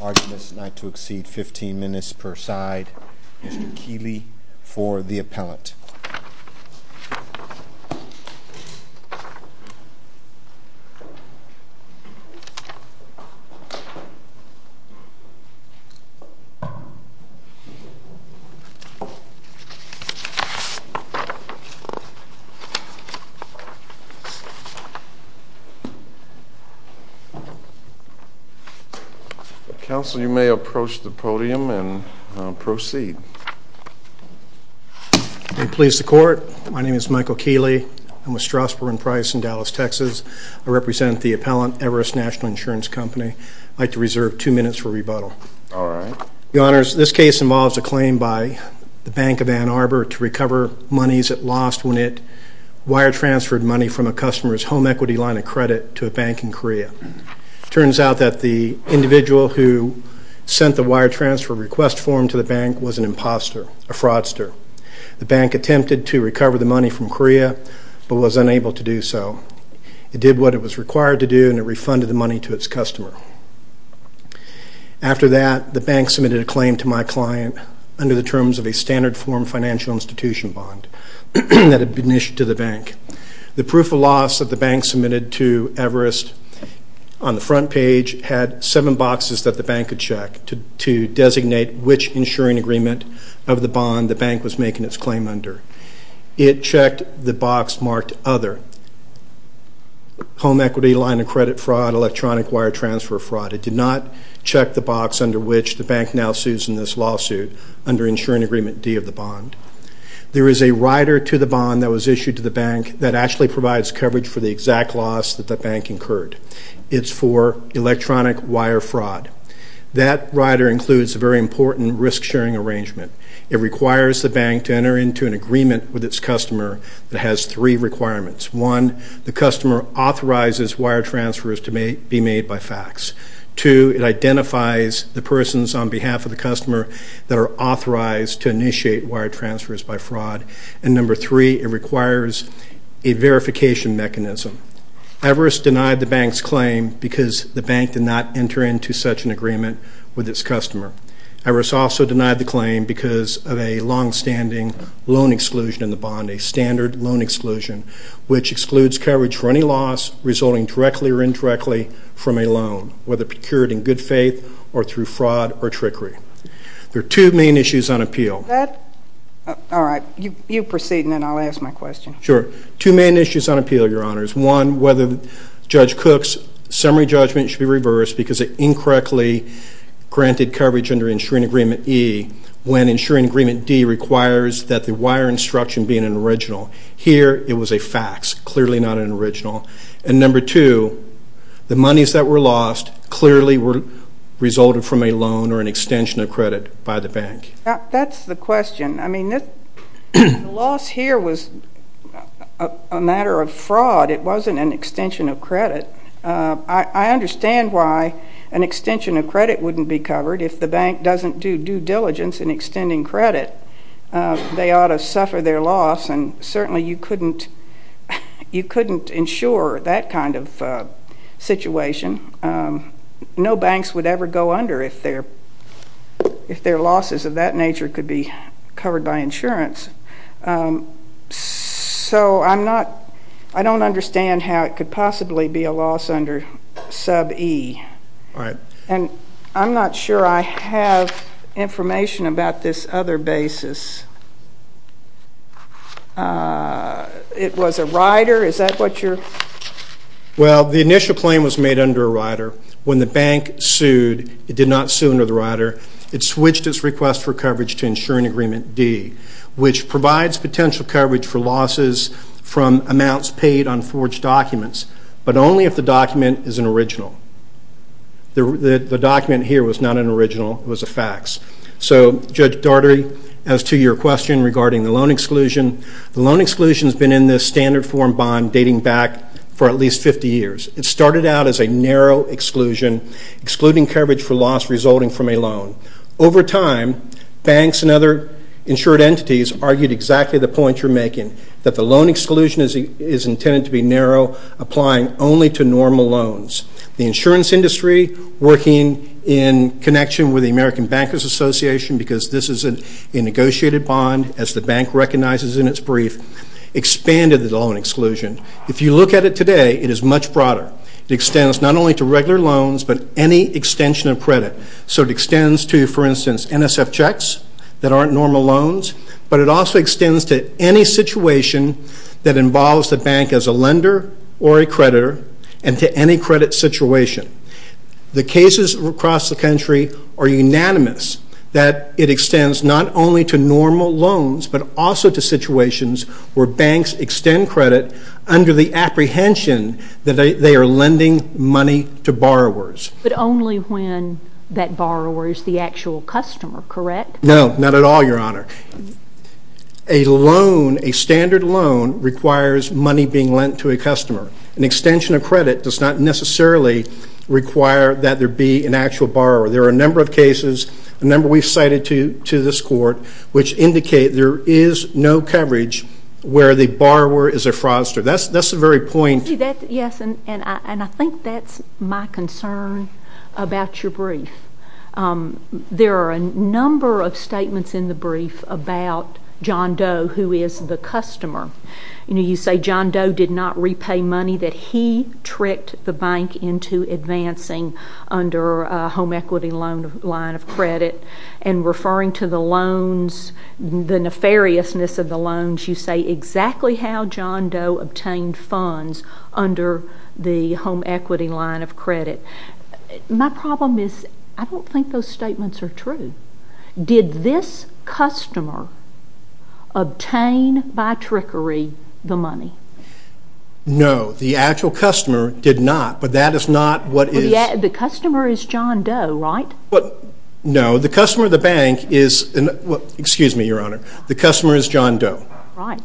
Arguments not to exceed 15 minutes per side. Mr. Keeley for the appellant. Counsel, you may approach the podium and proceed. May it please the court, my name is Michael Keeley. I'm with Strasburg and Price in Dallas, Texas. I represent the appellant, Everest National Insurance Company. I'd like to reserve 2 minutes for rebuttal. This case involves a claim by the Bank of Ann Arbor to recover monies it lost when it wire transferred money from a customer's home equity line of credit to a bank in Korea. It turns out that the individual who sent the wire transfer request form to the bank was an imposter, a fraudster. The bank attempted to recover the money from Korea but was unable to do so. It did what it was required to do and refunded the money to its customer. After that, the bank submitted a claim to my client under the terms of a standard form financial institution bond that had been issued to the bank. The proof of loss that the bank submitted to Everest on the front page had 7 boxes that the bank had checked to designate which insuring agreement of the bond the bank was making its claim under. It checked the box marked other, home equity line of credit fraud, electronic wire transfer fraud. It did not check the box under which the bank now sues in this lawsuit under insuring agreement D of the bond. There is a rider to the bond that was issued to the bank that actually provides coverage for the exact loss that the bank incurred. It's for electronic wire fraud. That rider includes a very important risk sharing arrangement. It requires the bank to enter into an agreement with its customer that has three requirements. One, the customer authorizes wire transfers to be made by fax. Two, it identifies the persons on behalf of the customer that are authorized to initiate wire transfers by fraud. And number three, it requires a verification mechanism. Everest denied the bank's claim because the bank did not enter into such an agreement with its customer. Everest also denied the claim because of a longstanding loan exclusion in the bond, a standard loan exclusion, which excludes coverage for any loss resulting directly or indirectly from a loan, whether procured in good faith or through fraud or trickery. There are two main issues on appeal. All right. You proceed and then I'll ask my question. Sure. Two main issues on appeal, Your Honors. One, whether Judge Cook's summary judgment should be reversed because it incorrectly granted coverage under insuring agreement E when insuring agreement D requires that the wire instruction be an original. Here, it was a fax, clearly not an original. And number two, the monies that were lost clearly resulted from a loan or an extension of credit by the bank. That's the question. I mean, the loss here was a matter of fraud. It wasn't an extension of credit. I understand why an extension of credit wouldn't be covered. If the bank doesn't do due diligence in extending credit, they ought to suffer their loss, and certainly you couldn't insure that kind of situation. No banks would ever go under if their losses of that nature could be covered by insurance. So I don't understand how it could possibly be a loss under sub E. All right. And I'm not sure I have information about this other basis. It was a rider. Is that what you're? Well, the initial claim was made under a rider. When the bank sued, it did not sue under the rider. It switched its request for coverage to insuring agreement D, which provides potential coverage for losses from amounts paid on forged documents, but only if the document is an original. The document here was not an original. It was a fax. So, Judge Daugherty, as to your question regarding the loan exclusion, the loan exclusion has been in this standard form bond dating back for at least 50 years. It started out as a narrow exclusion, excluding coverage for loss resulting from a loan. Over time, banks and other insured entities argued exactly the point you're making, that the loan exclusion is intended to be narrow, applying only to normal loans. The insurance industry, working in connection with the American Bankers Association, because this is a negotiated bond as the bank recognizes in its brief, expanded the loan exclusion. If you look at it today, it is much broader. It extends not only to regular loans, but any extension of credit. So it extends to, for instance, NSF checks that aren't normal loans, but it also extends to any situation that involves the bank as a lender or a creditor, and to any credit situation. The cases across the country are unanimous that it extends not only to normal loans, but also to situations where banks extend credit under the apprehension that they are lending money to borrowers. But only when that borrower is the actual customer, correct? No, not at all, Your Honor. A loan, a standard loan, requires money being lent to a customer. An extension of credit does not necessarily require that there be an actual borrower. There are a number of cases, a number we've cited to this court, which indicate there is no coverage where the borrower is a fraudster. That's the very point. Yes, and I think that's my concern about your brief. There are a number of statements in the brief about John Doe, who is the customer. You know, you say John Doe did not repay money, that he tricked the bank into advancing under a home equity loan line of credit. And referring to the loans, the nefariousness of the loans, you say exactly how John Doe obtained funds under the home equity line of credit. My problem is I don't think those statements are true. Did this customer obtain by trickery the money? No, the actual customer did not, but that is not what is— The customer is John Doe, right? No, the customer of the bank is—excuse me, Your Honor—the customer is John Doe. Right.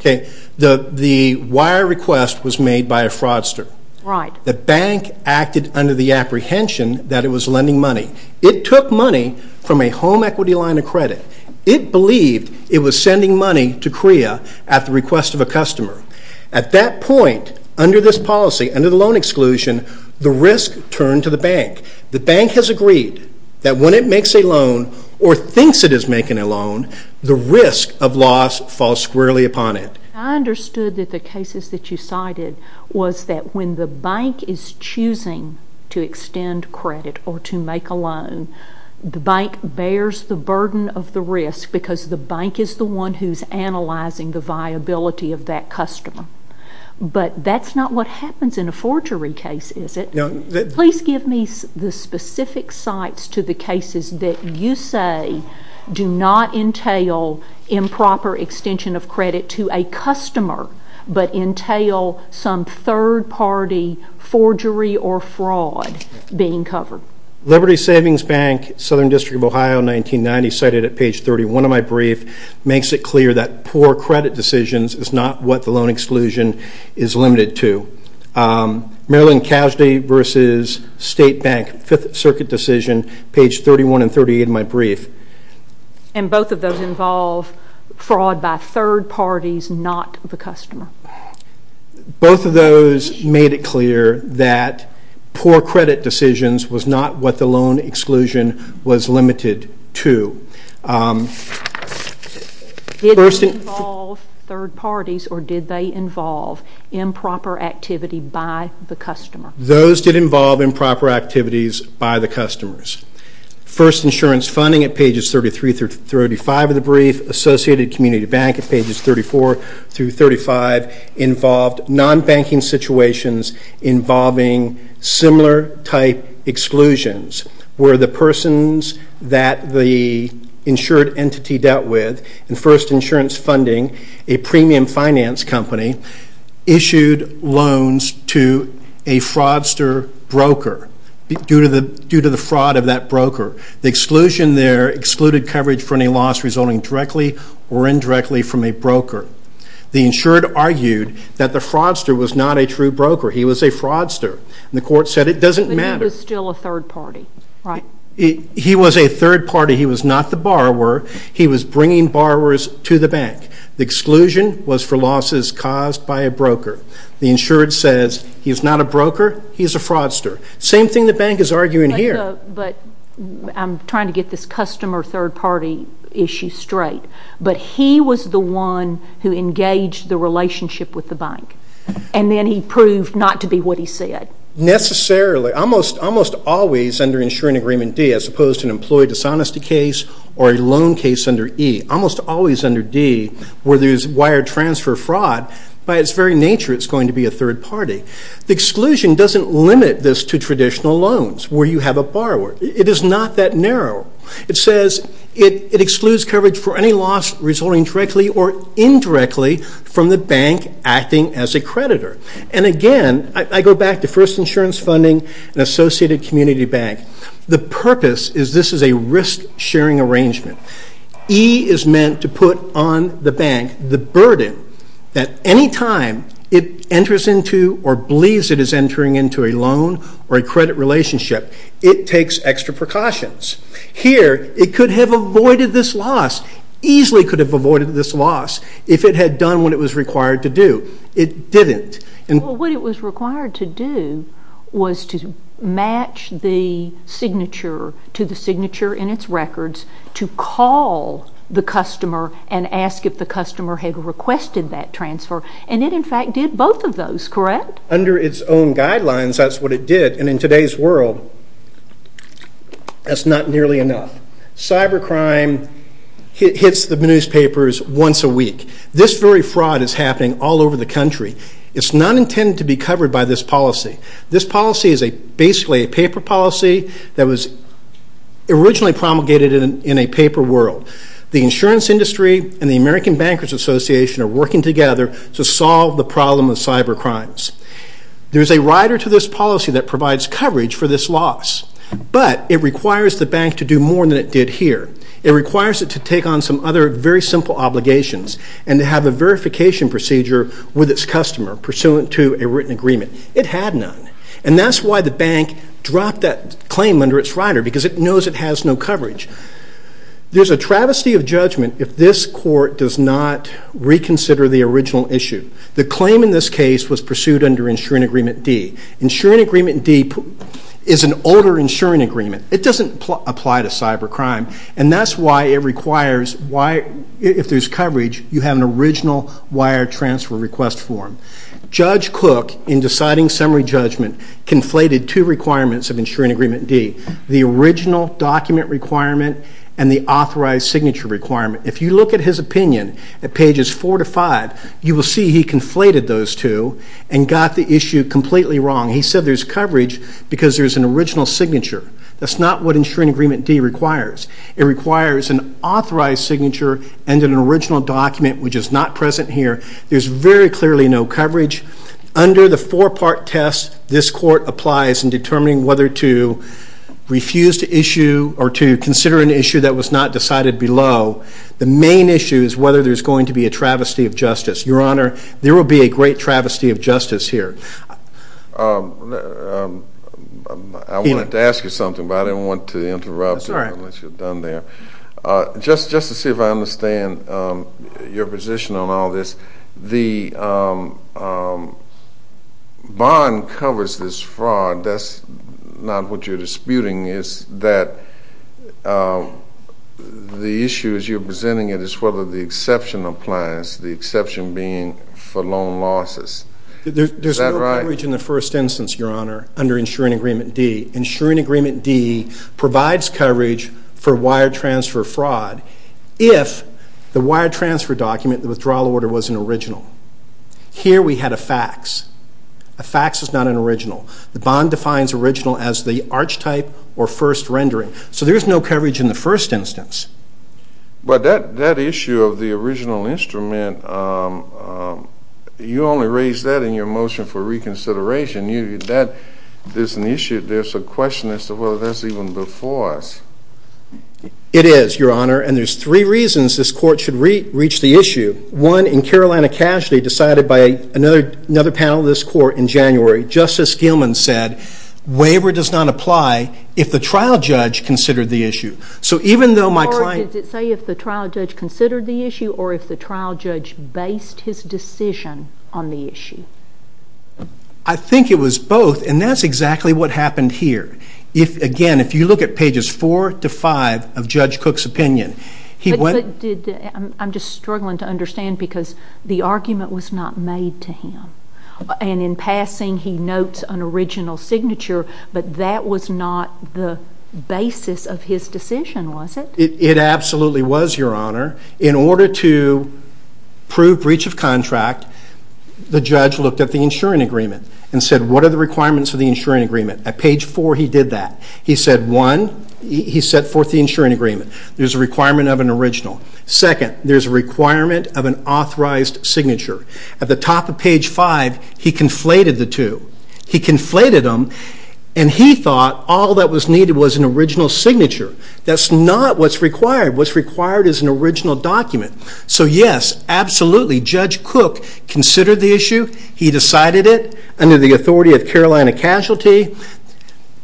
The wire request was made by a fraudster. Right. The bank acted under the apprehension that it was lending money. It took money from a home equity line of credit. It believed it was sending money to CREA at the request of a customer. At that point, under this policy, under the loan exclusion, the risk turned to the bank. The bank has agreed that when it makes a loan or thinks it is making a loan, the risk of loss falls squarely upon it. I understood that the cases that you cited was that when the bank is choosing to extend credit or to make a loan, the bank bears the burden of the risk because the bank is the one who is analyzing the viability of that customer. But that's not what happens in a forgery case, is it? Please give me the specific sites to the cases that you say do not entail improper extension of credit to a customer but entail some third-party forgery or fraud being covered. Liberty Savings Bank, Southern District of Ohio, 1990, cited at page 31 of my brief, makes it clear that poor credit decisions is not what the loan exclusion is limited to. Maryland Casady v. State Bank, Fifth Circuit decision, page 31 and 38 of my brief. And both of those involve fraud by third parties, not the customer. Both of those made it clear that poor credit decisions was not what the loan exclusion was limited to. Did they involve third parties or did they involve improper activity by the customer? Those did involve improper activities by the customers. First insurance funding at pages 33 through 35 of the brief, associated community bank at pages 34 through 35, involved non-banking situations involving similar type exclusions where the persons that the insured entity dealt with in first insurance funding, a premium finance company, issued loans to a fraudster broker due to the fraud of that broker. The exclusion there excluded coverage for any loss resulting directly or indirectly from a broker. The insured argued that the fraudster was not a true broker. He was a fraudster. And the court said it doesn't matter. But he was still a third party, right? He was a third party. He was not the borrower. He was bringing borrowers to the bank. The exclusion was for losses caused by a broker. The insured says he is not a broker. He is a fraudster. Same thing the bank is arguing here. But I'm trying to get this customer third party issue straight. But he was the one who engaged the relationship with the bank. And then he proved not to be what he said. Necessarily. Almost always under insuring agreement D, as opposed to an employee dishonesty case or a loan case under E, almost always under D where there's wire transfer fraud, by its very nature it's going to be a third party. The exclusion doesn't limit this to traditional loans where you have a borrower. It is not that narrow. It says it excludes coverage for any loss resulting directly or indirectly from the bank acting as a creditor. And, again, I go back to first insurance funding and associated community bank. The purpose is this is a risk-sharing arrangement. E is meant to put on the bank the burden that any time it enters into or believes it is entering into a loan or a credit relationship, it takes extra precautions. Here it could have avoided this loss, easily could have avoided this loss, if it had done what it was required to do. It didn't. What it was required to do was to match the signature to the signature in its records, to call the customer and ask if the customer had requested that transfer. And it, in fact, did both of those, correct? Under its own guidelines, that's what it did. And in today's world, that's not nearly enough. Cybercrime hits the newspapers once a week. This very fraud is happening all over the country. It's not intended to be covered by this policy. This policy is basically a paper policy that was originally promulgated in a paper world. The insurance industry and the American Bankers Association are working together to solve the problem of cybercrimes. There is a rider to this policy that provides coverage for this loss, but it requires the bank to do more than it did here. It requires it to take on some other very simple obligations and to have a verification procedure with its customer pursuant to a written agreement. It had none, and that's why the bank dropped that claim under its rider, because it knows it has no coverage. There's a travesty of judgment if this court does not reconsider the original issue. The claim in this case was pursued under Insuring Agreement D. Insuring Agreement D is an older insuring agreement. It doesn't apply to cybercrime, and that's why it requires if there's coverage, you have an original wire transfer request form. Judge Cook, in deciding summary judgment, conflated two requirements of Insuring Agreement D, the original document requirement and the authorized signature requirement. If you look at his opinion at pages 4 to 5, you will see he conflated those two and got the issue completely wrong. He said there's coverage because there's an original signature. That's not what Insuring Agreement D requires. It requires an authorized signature and an original document, which is not present here. There's very clearly no coverage. Under the four-part test, this court applies in determining whether to refuse to issue or to consider an issue that was not decided below. The main issue is whether there's going to be a travesty of justice. Your Honor, there will be a great travesty of justice here. I wanted to ask you something, but I didn't want to interrupt unless you're done there. Just to see if I understand your position on all this, the bond covers this fraud. That's not what you're disputing is that the issue as you're presenting it is whether the exception applies, the exception being for loan losses. Is that right? There's no coverage in the first instance, Your Honor, under Insuring Agreement D. Insuring Agreement D provides coverage for wire transfer fraud if the wire transfer document, the withdrawal order, was an original. Here we had a fax. A fax is not an original. The bond defines original as the arch type or first rendering. So there's no coverage in the first instance. But that issue of the original instrument, you only raised that in your motion for reconsideration. There's an issue, there's a question as to whether that's even before us. It is, Your Honor, and there's three reasons this Court should reach the issue. One, in Carolina Casualty, decided by another panel of this Court in January, Justice Gilman said, waiver does not apply if the trial judge considered the issue. So even though my client Or does it say if the trial judge considered the issue or if the trial judge based his decision on the issue? I think it was both, and that's exactly what happened here. Again, if you look at pages 4 to 5 of Judge Cook's opinion, he went I'm just struggling to understand because the argument was not made to him. And in passing, he notes an original signature, but that was not the basis of his decision, was it? It absolutely was, Your Honor. In order to prove breach of contract, the judge looked at the insuring agreement and said, what are the requirements of the insuring agreement? At page 4, he did that. He said, one, he set forth the insuring agreement. There's a requirement of an original. Second, there's a requirement of an authorized signature. At the top of page 5, he conflated the two. He conflated them, and he thought all that was needed was an original signature. That's not what's required. What's required is an original document. So yes, absolutely, Judge Cook considered the issue. He decided it under the authority of Carolina Casualty.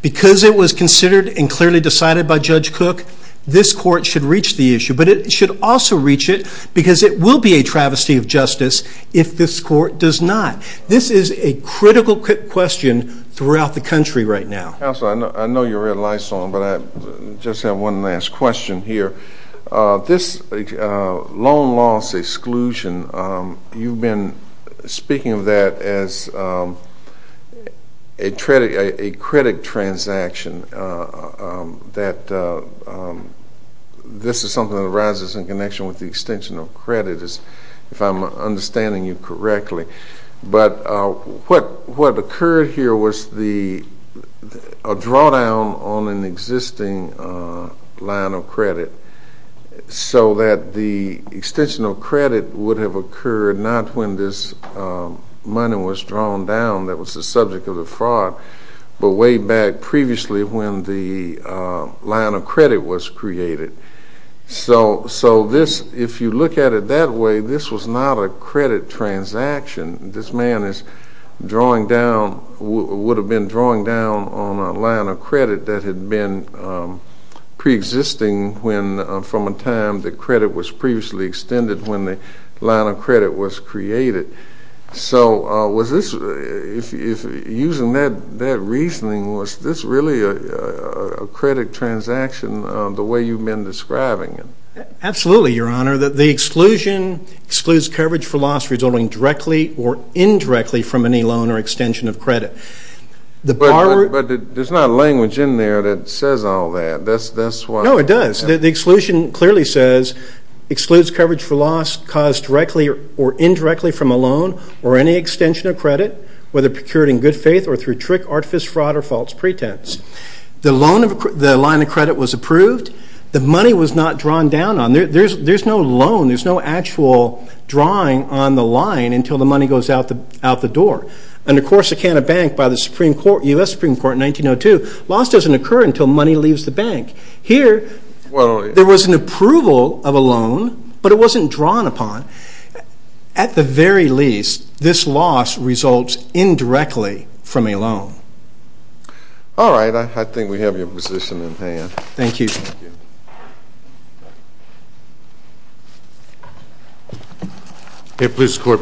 Because it was considered and clearly decided by Judge Cook, this court should reach the issue. But it should also reach it because it will be a travesty of justice if this court does not. This is a critical question throughout the country right now. Counselor, I know you read Lysol, but I just have one last question here. This loan loss exclusion, you've been speaking of that as a credit transaction, that this is something that arises in connection with the extension of credit, if I'm understanding you correctly. But what occurred here was a drawdown on an existing line of credit, so that the extension of credit would have occurred not when this money was drawn down that was the subject of the fraud, but way back previously when the line of credit was created. So this, if you look at it that way, this was not a credit transaction. This man is drawing down, would have been drawing down on a line of credit that had been preexisting from a time the credit was previously extended when the line of credit was created. So was this, using that reasoning, was this really a credit transaction the way you've been describing it? Absolutely, Your Honor. The exclusion excludes coverage for loss resulting directly or indirectly from any loan or extension of credit. But there's not language in there that says all that. No, it does. The exclusion clearly says, excludes coverage for loss caused directly or indirectly from a loan or any extension of credit, whether procured in good faith or through trick, artifice, fraud, or false pretense. The line of credit was approved. The money was not drawn down on it. There's no loan. There's no actual drawing on the line until the money goes out the door. Under Corsicana Bank by the U.S. Supreme Court in 1902, loss doesn't occur until money leaves the bank. Here, there was an approval of a loan, but it wasn't drawn upon. At the very least, this loss results indirectly from a loan. All right. I think we have your position in hand. Thank you. Please support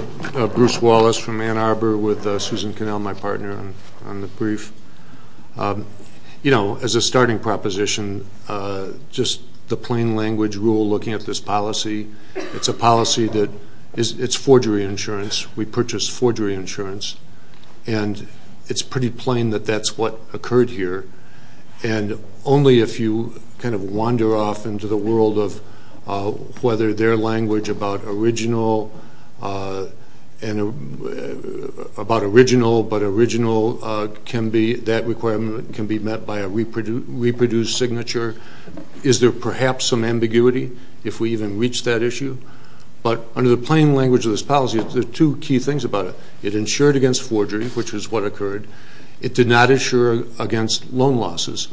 Bruce Wallace from Ann Arbor with Susan Connell, my partner, on the brief. You know, as a starting proposition, just the plain language rule looking at this policy, it's a policy that it's forgery insurance. We purchased forgery insurance, and it's pretty plain that that's what occurred here. And only if you kind of wander off into the world of whether their language about original and about original but original can be, that requirement can be met by a reproduced signature. Is there perhaps some ambiguity if we even reach that issue? But under the plain language of this policy, there are two key things about it. It insured against forgery, which is what occurred. It did not insure against loan losses.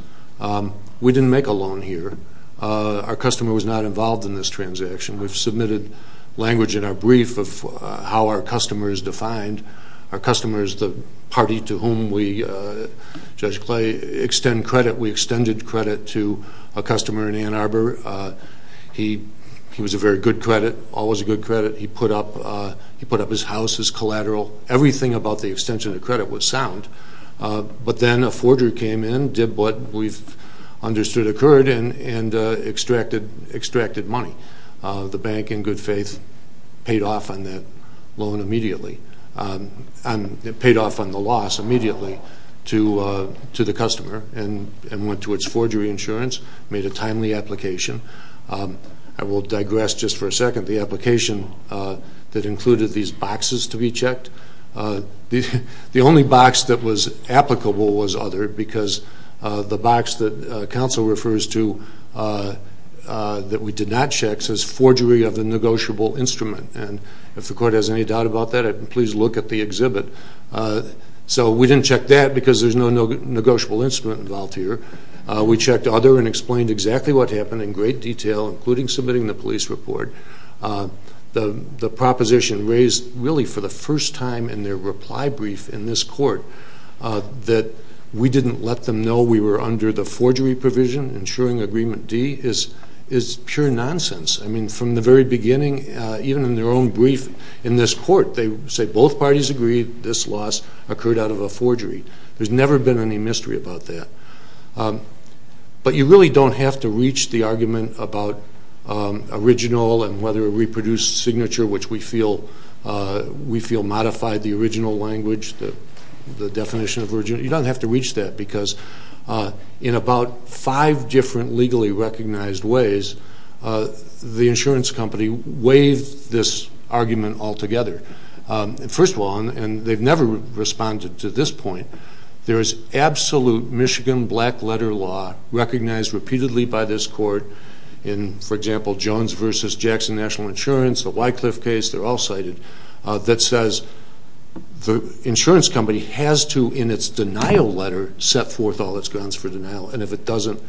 We didn't make a loan here. Our customer was not involved in this transaction. We've submitted language in our brief of how our customer is defined. Our customer is the party to whom we, Judge Clay, extend credit. We extended credit to a customer in Ann Arbor. He was a very good credit, always a good credit. He put up his house as collateral. Everything about the extension of credit was sound. But then a forgery came in, did what we've understood occurred, and extracted money. The bank, in good faith, paid off on the loss immediately to the customer and went to its forgery insurance, made a timely application. I will digress just for a second. The only box that was applicable was Other because the box that counsel refers to that we did not check says forgery of a negotiable instrument. If the court has any doubt about that, please look at the exhibit. We didn't check that because there's no negotiable instrument involved here. We checked Other and explained exactly what happened in great detail, including submitting the police report. The proposition raised really for the first time in their reply brief in this court that we didn't let them know we were under the forgery provision. Ensuring Agreement D is pure nonsense. I mean, from the very beginning, even in their own brief in this court, they say both parties agreed this loss occurred out of a forgery. There's never been any mystery about that. But you really don't have to reach the argument about original and whether a reproduced signature, which we feel modified the original language, the definition of original. You don't have to reach that because in about five different legally recognized ways, the insurance company waived this argument altogether. First of all, and they've never responded to this point, there is absolute Michigan black letter law recognized repeatedly by this court in, for example, Jones v. Jackson National Insurance, the Wycliffe case, they're all cited, that says the insurance company has to, in its denial letter, set forth all its grounds for denial. And if it doesn't,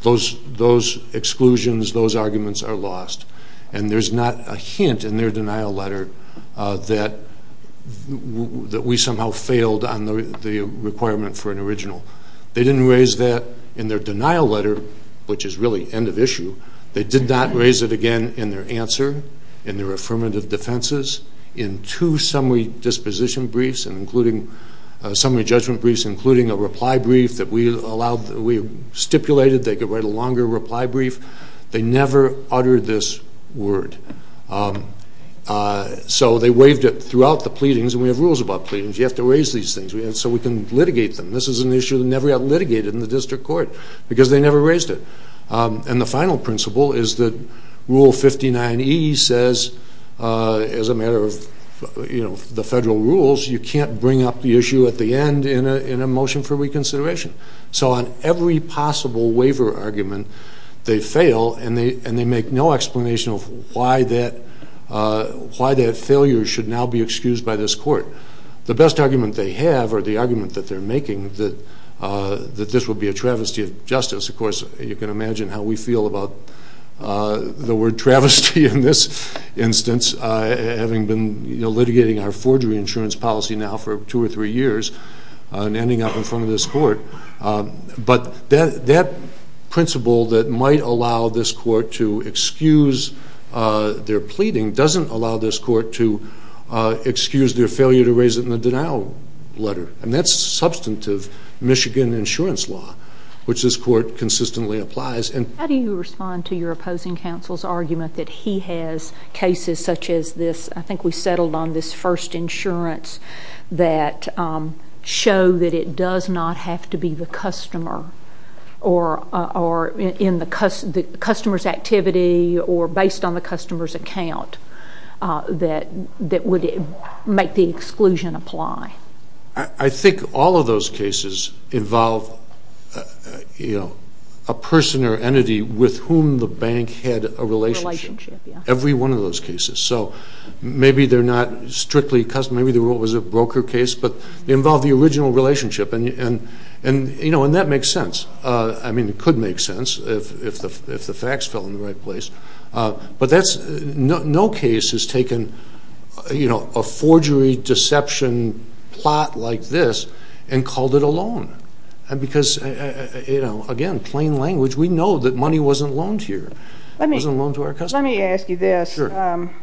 those exclusions, those arguments are lost. And there's not a hint in their denial letter that we somehow failed on the requirement for an original. They didn't raise that in their denial letter, which is really end of issue. They did not raise it again in their answer, in their affirmative defenses, in two summary disposition briefs and including summary judgment briefs, including a reply brief that we stipulated they could write a longer reply brief. They never uttered this word. So they waived it throughout the pleadings, and we have rules about pleadings. You have to raise these things so we can litigate them. This is an issue that never got litigated in the district court because they never raised it. And the final principle is that Rule 59E says, as a matter of the federal rules, you can't bring up the issue at the end in a motion for reconsideration. So on every possible waiver argument, they fail, and they make no explanation of why that failure should now be excused by this court. The best argument they have, or the argument that they're making, is that this will be a travesty of justice. Of course, you can imagine how we feel about the word travesty in this instance, having been litigating our forgery insurance policy now for two or three years and ending up in front of this court. But that principle that might allow this court to excuse their pleading doesn't allow this court to excuse their failure to raise it in the denial letter. And that's substantive Michigan insurance law, which this court consistently applies. How do you respond to your opposing counsel's argument that he has cases such as this? I think we settled on this first insurance that show that it does not have to be the customer or in the customer's activity or based on the customer's account that would make the exclusion apply. I think all of those cases involve a person or entity with whom the bank had a relationship. Relationship, yeah. Every one of those cases. So maybe they're not strictly a customer. Maybe it was a broker case, but they involve the original relationship. And that makes sense. I mean, it could make sense if the facts fell in the right place. But no case has taken a forgery deception plot like this and called it a loan. Because, again, plain language, we know that money wasn't loaned here. It wasn't loaned to our customer. Let me ask you this. I'm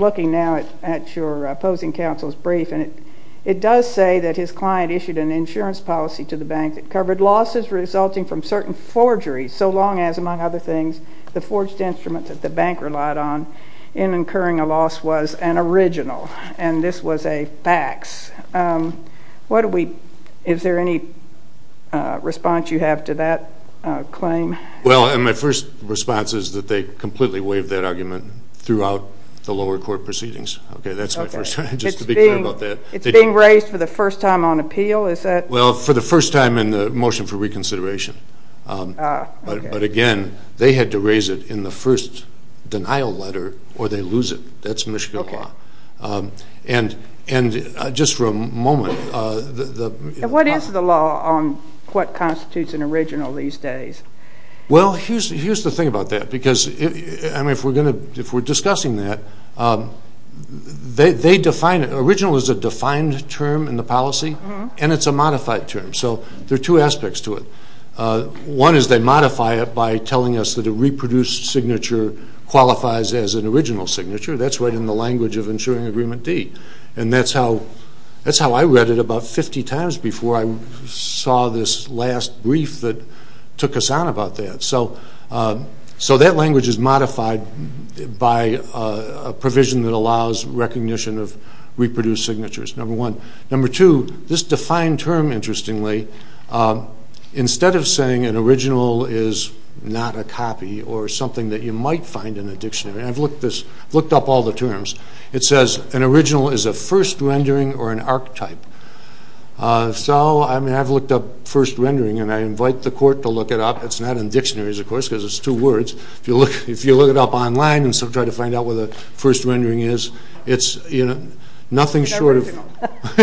looking now at your opposing counsel's brief, and it does say that his client issued an insurance policy to the bank that covered losses resulting from certain forgeries so long as, among other things, the forged instrument that the bank relied on in incurring a loss was an original, and this was a fax. Is there any response you have to that claim? Well, my first response is that they completely waived that argument throughout the lower court proceedings. Okay, that's my first. Just to be clear about that. It's being raised for the first time on appeal, is that? Well, for the first time in the motion for reconsideration. But, again, they had to raise it in the first denial letter or they lose it. That's Michigan law. And just for a moment. What is the law on what constitutes an original these days? Well, here's the thing about that because, I mean, if we're discussing that, they define it. Original is a defined term in the policy, and it's a modified term. So there are two aspects to it. One is they modify it by telling us that a reproduced signature qualifies as an original signature. That's right in the language of insuring agreement D, and that's how I read it about 50 times before I saw this last brief that took us on about that. So that language is modified by a provision that allows recognition of reproduced signatures, number one. Number two, this defined term, interestingly, instead of saying an original is not a copy or something that you might find in a dictionary, and I've looked up all the terms, it says an original is a first rendering or an archetype. So, I mean, I've looked up first rendering, and I invite the court to look it up. It's not in dictionaries, of course, because it's two words. If you look it up online and try to find out what a first rendering is, it's nothing short of –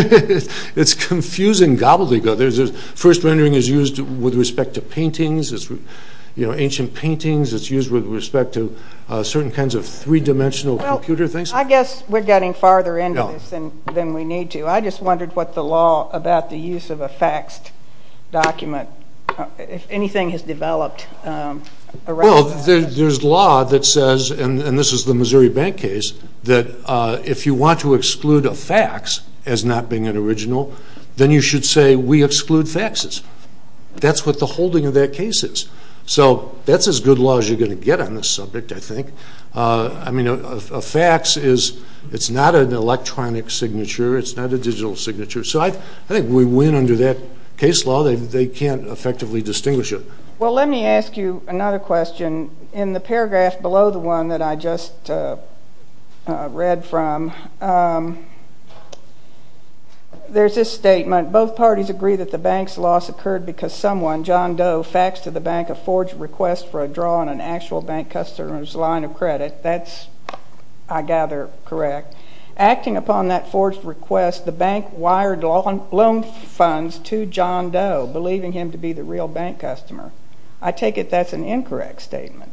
It's confusing gobbledygook. First rendering is used with respect to paintings, ancient paintings. It's used with respect to certain kinds of three-dimensional computer things. I guess we're getting farther into this than we need to. I just wondered what the law about the use of a faxed document, if anything has developed around that. Well, there's law that says, and this is the Missouri Bank case, that if you want to exclude a fax as not being an original, then you should say we exclude faxes. That's what the holding of that case is. So that's as good a law as you're going to get on this subject, I think. A fax is not an electronic signature. It's not a digital signature. So I think we win under that case law. They can't effectively distinguish it. Well, let me ask you another question. In the paragraph below the one that I just read from, there's this statement. Both parties agree that the bank's loss occurred because someone, John Doe, faxed to the bank a forged request for a draw on an actual bank customer's line of credit. That's, I gather, correct. Acting upon that forged request, the bank wired loan funds to John Doe, believing him to be the real bank customer. I take it that's an incorrect statement.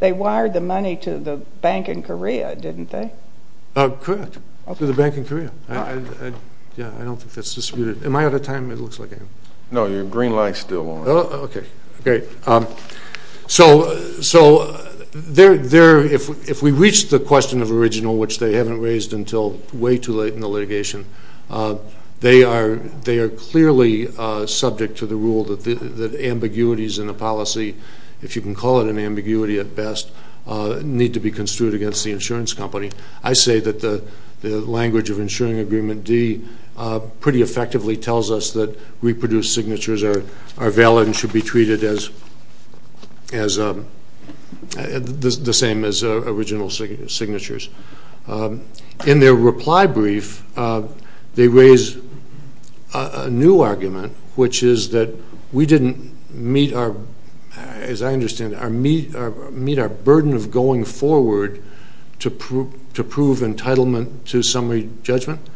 They wired the money to the bank in Korea, didn't they? Correct, to the bank in Korea. Yeah, I don't think that's disputed. Am I out of time? It looks like I am. No, your green light's still on. Okay, great. So if we reach the question of original, which they haven't raised until way too late in the litigation, they are clearly subject to the rule that ambiguities in a policy, if you can call it an ambiguity at best, need to be construed against the insurance company. I say that the language of insuring agreement D pretty effectively tells us that reproduced signatures are valid and should be treated the same as original signatures. In their reply brief, they raise a new argument, which is that we didn't meet, as I understand it, meet our burden of going forward to prove entitlement to summary judgment.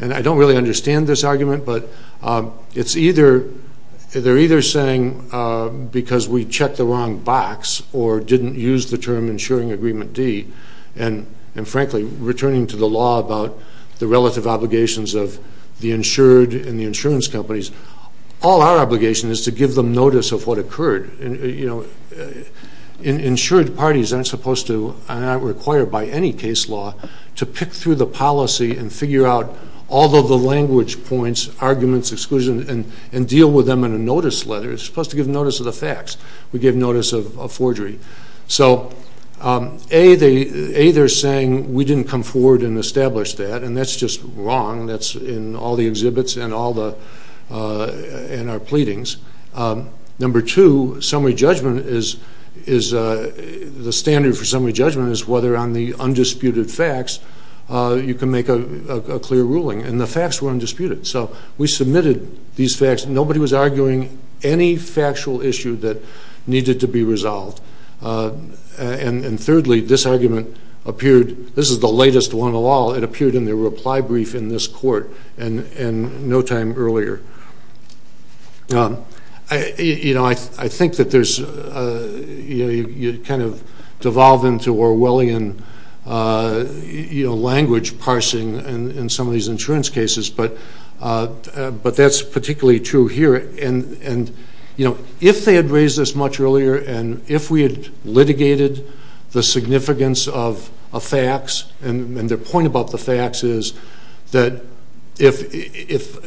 And I don't really understand this argument, but they're either saying because we checked the wrong box or didn't use the term insuring agreement D, and, frankly, returning to the law about the relative obligations of the insured and the insurance companies, all our obligation is to give them notice of what occurred. Insured parties aren't required by any case law to pick through the policy and figure out all of the language points, arguments, exclusions, and deal with them in a notice letter. It's supposed to give notice of the facts. We give notice of forgery. So, A, they're saying we didn't come forward and establish that, and that's just wrong. That's in all the exhibits and our pleadings. Number two, the standard for summary judgment is whether on the undisputed facts you can make a clear ruling, and the facts were undisputed. So we submitted these facts. Nobody was arguing any factual issue that needed to be resolved. And thirdly, this argument appeared, this is the latest one of all, it appeared in the reply brief in this court no time earlier. I think that you kind of devolve into Orwellian language parsing in some of these insurance cases, but that's particularly true here. And if they had raised this much earlier, and if we had litigated the significance of facts, and the point about the facts is that if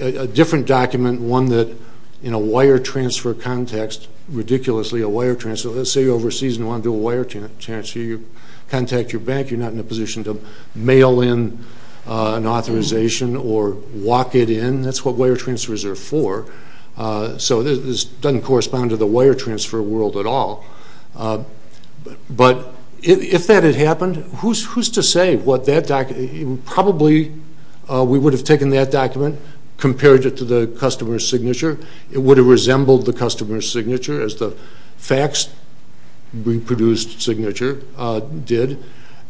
a different document, one that in a wire transfer context, ridiculously a wire transfer, let's say you're overseas and you want to do a wire transfer. You contact your bank. You're not in a position to mail in an authorization or walk it in. That's what wire transfers are for. So this doesn't correspond to the wire transfer world at all. But if that had happened, who's to say what that document, probably we would have taken that document, compared it to the customer's signature. It would have resembled the customer's signature as the facts reproduced signature did.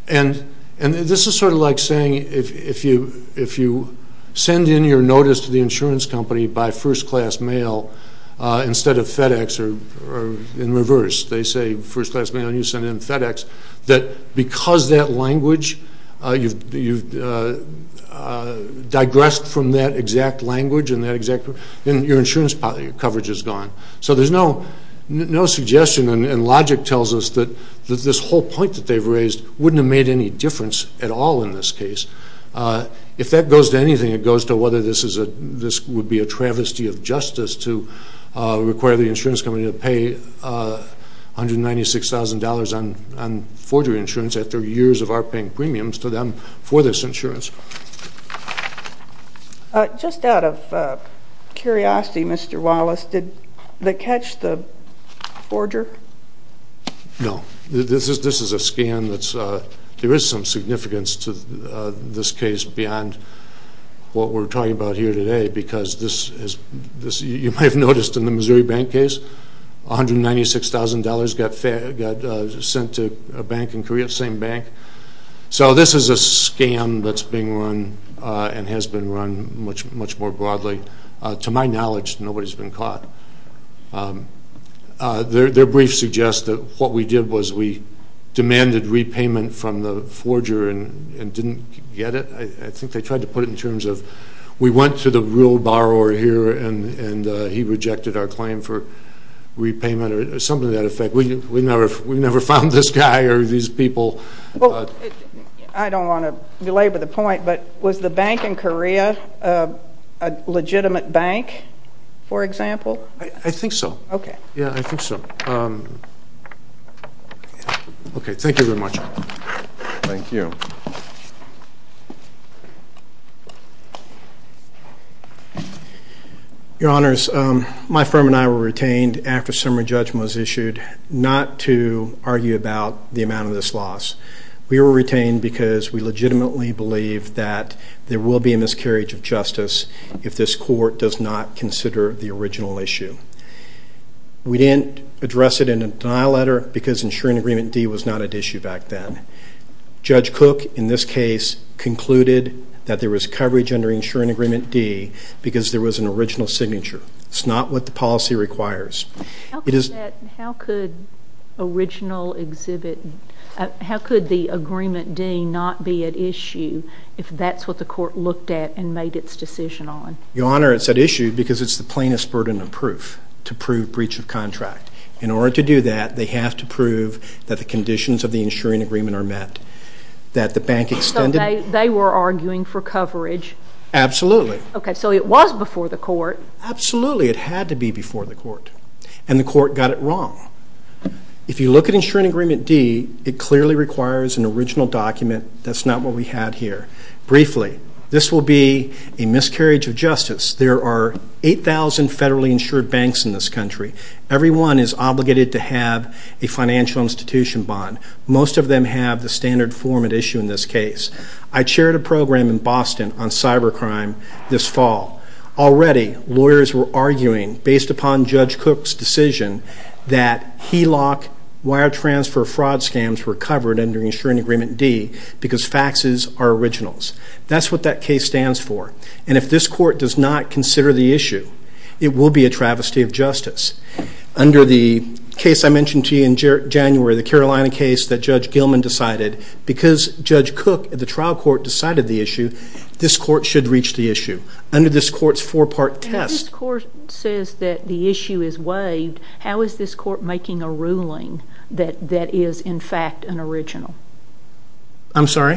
And this is sort of like saying if you send in your notice to the insurance company by first class mail instead of FedEx or in reverse. They say first class mail, and you send in FedEx, that because that language, you've digressed from that exact language, and your insurance coverage is gone. So there's no suggestion, and logic tells us that this whole point that they've raised wouldn't have made any difference at all in this case. If that goes to anything, it goes to whether this would be a travesty of justice to require the insurance company to pay $196,000 on forgery insurance after years of our paying premiums to them for this insurance. Just out of curiosity, Mr. Wallace, did they catch the forger? No. This is a scan that's – there is some significance to this case beyond what we're talking about here today because this – you might have noticed in the Missouri bank case, $196,000 got sent to a bank in Korea, the same bank. So this is a scam that's being run and has been run much more broadly. To my knowledge, nobody's been caught. Their brief suggests that what we did was we demanded repayment from the forger and didn't get it. I think they tried to put it in terms of we went to the real borrower here and he rejected our claim for repayment or something to that effect. We never found this guy or these people. I don't want to belabor the point, but was the bank in Korea a legitimate bank, for example? I think so. Okay. Yeah, I think so. Okay, thank you very much. Thank you. Your Honors, my firm and I were retained after summary judgment was issued not to argue about the amount of this loss. We were retained because we legitimately believe that there will be a miscarriage of justice if this court does not consider the original issue. We didn't address it in a denial letter because insuring agreement D was not at issue back then. Judge Cook, in this case, concluded that there was coverage under insuring agreement D because there was an original signature. It's not what the policy requires. How could the original exhibit, how could the agreement D not be at issue if that's what the court looked at and made its decision on? Your Honor, it's at issue because it's the plainest burden of proof to prove breach of contract. In order to do that, they have to prove that the conditions of the insuring agreement are met, that the bank extended. So they were arguing for coverage. Absolutely. Okay, so it was before the court. Absolutely. It had to be before the court, and the court got it wrong. If you look at insuring agreement D, it clearly requires an original document. That's not what we had here. Briefly, this will be a miscarriage of justice. There are 8,000 federally insured banks in this country. Everyone is obligated to have a financial institution bond. Most of them have the standard form at issue in this case. I chaired a program in Boston on cybercrime this fall. Already, lawyers were arguing, based upon Judge Cook's decision, that HELOC wire transfer fraud scams were covered under insuring agreement D because faxes are originals. That's what that case stands for. And if this court does not consider the issue, it will be a travesty of justice. Under the case I mentioned to you in January, the Carolina case that Judge Gilman decided, because Judge Cook at the trial court decided the issue, this court should reach the issue. Under this court's four-part test. If this court says that the issue is waived, how is this court making a ruling that is in fact an original? I'm sorry?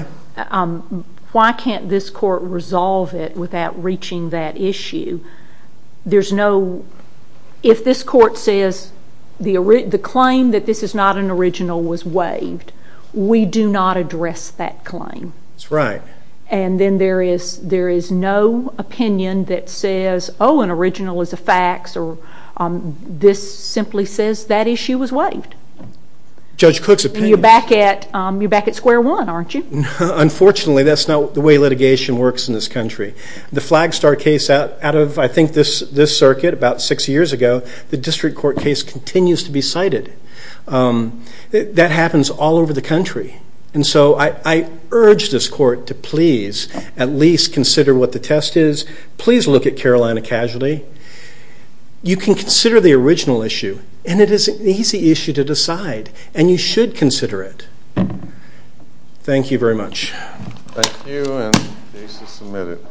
Why can't this court resolve it without reaching that issue? If this court says the claim that this is not an original was waived, we do not address that claim. That's right. And then there is no opinion that says, oh, an original is a fax, or this simply says that issue was waived. Judge Cook's opinion. You're back at square one, aren't you? Unfortunately, that's not the way litigation works in this country. The Flagstar case out of, I think, this circuit about six years ago, the district court case continues to be cited. That happens all over the country. And so I urge this court to please at least consider what the test is. Please look at Carolina casualty. You can consider the original issue, and it is an easy issue to decide, and you should consider it. Thank you very much. Thank you, and case is submitted.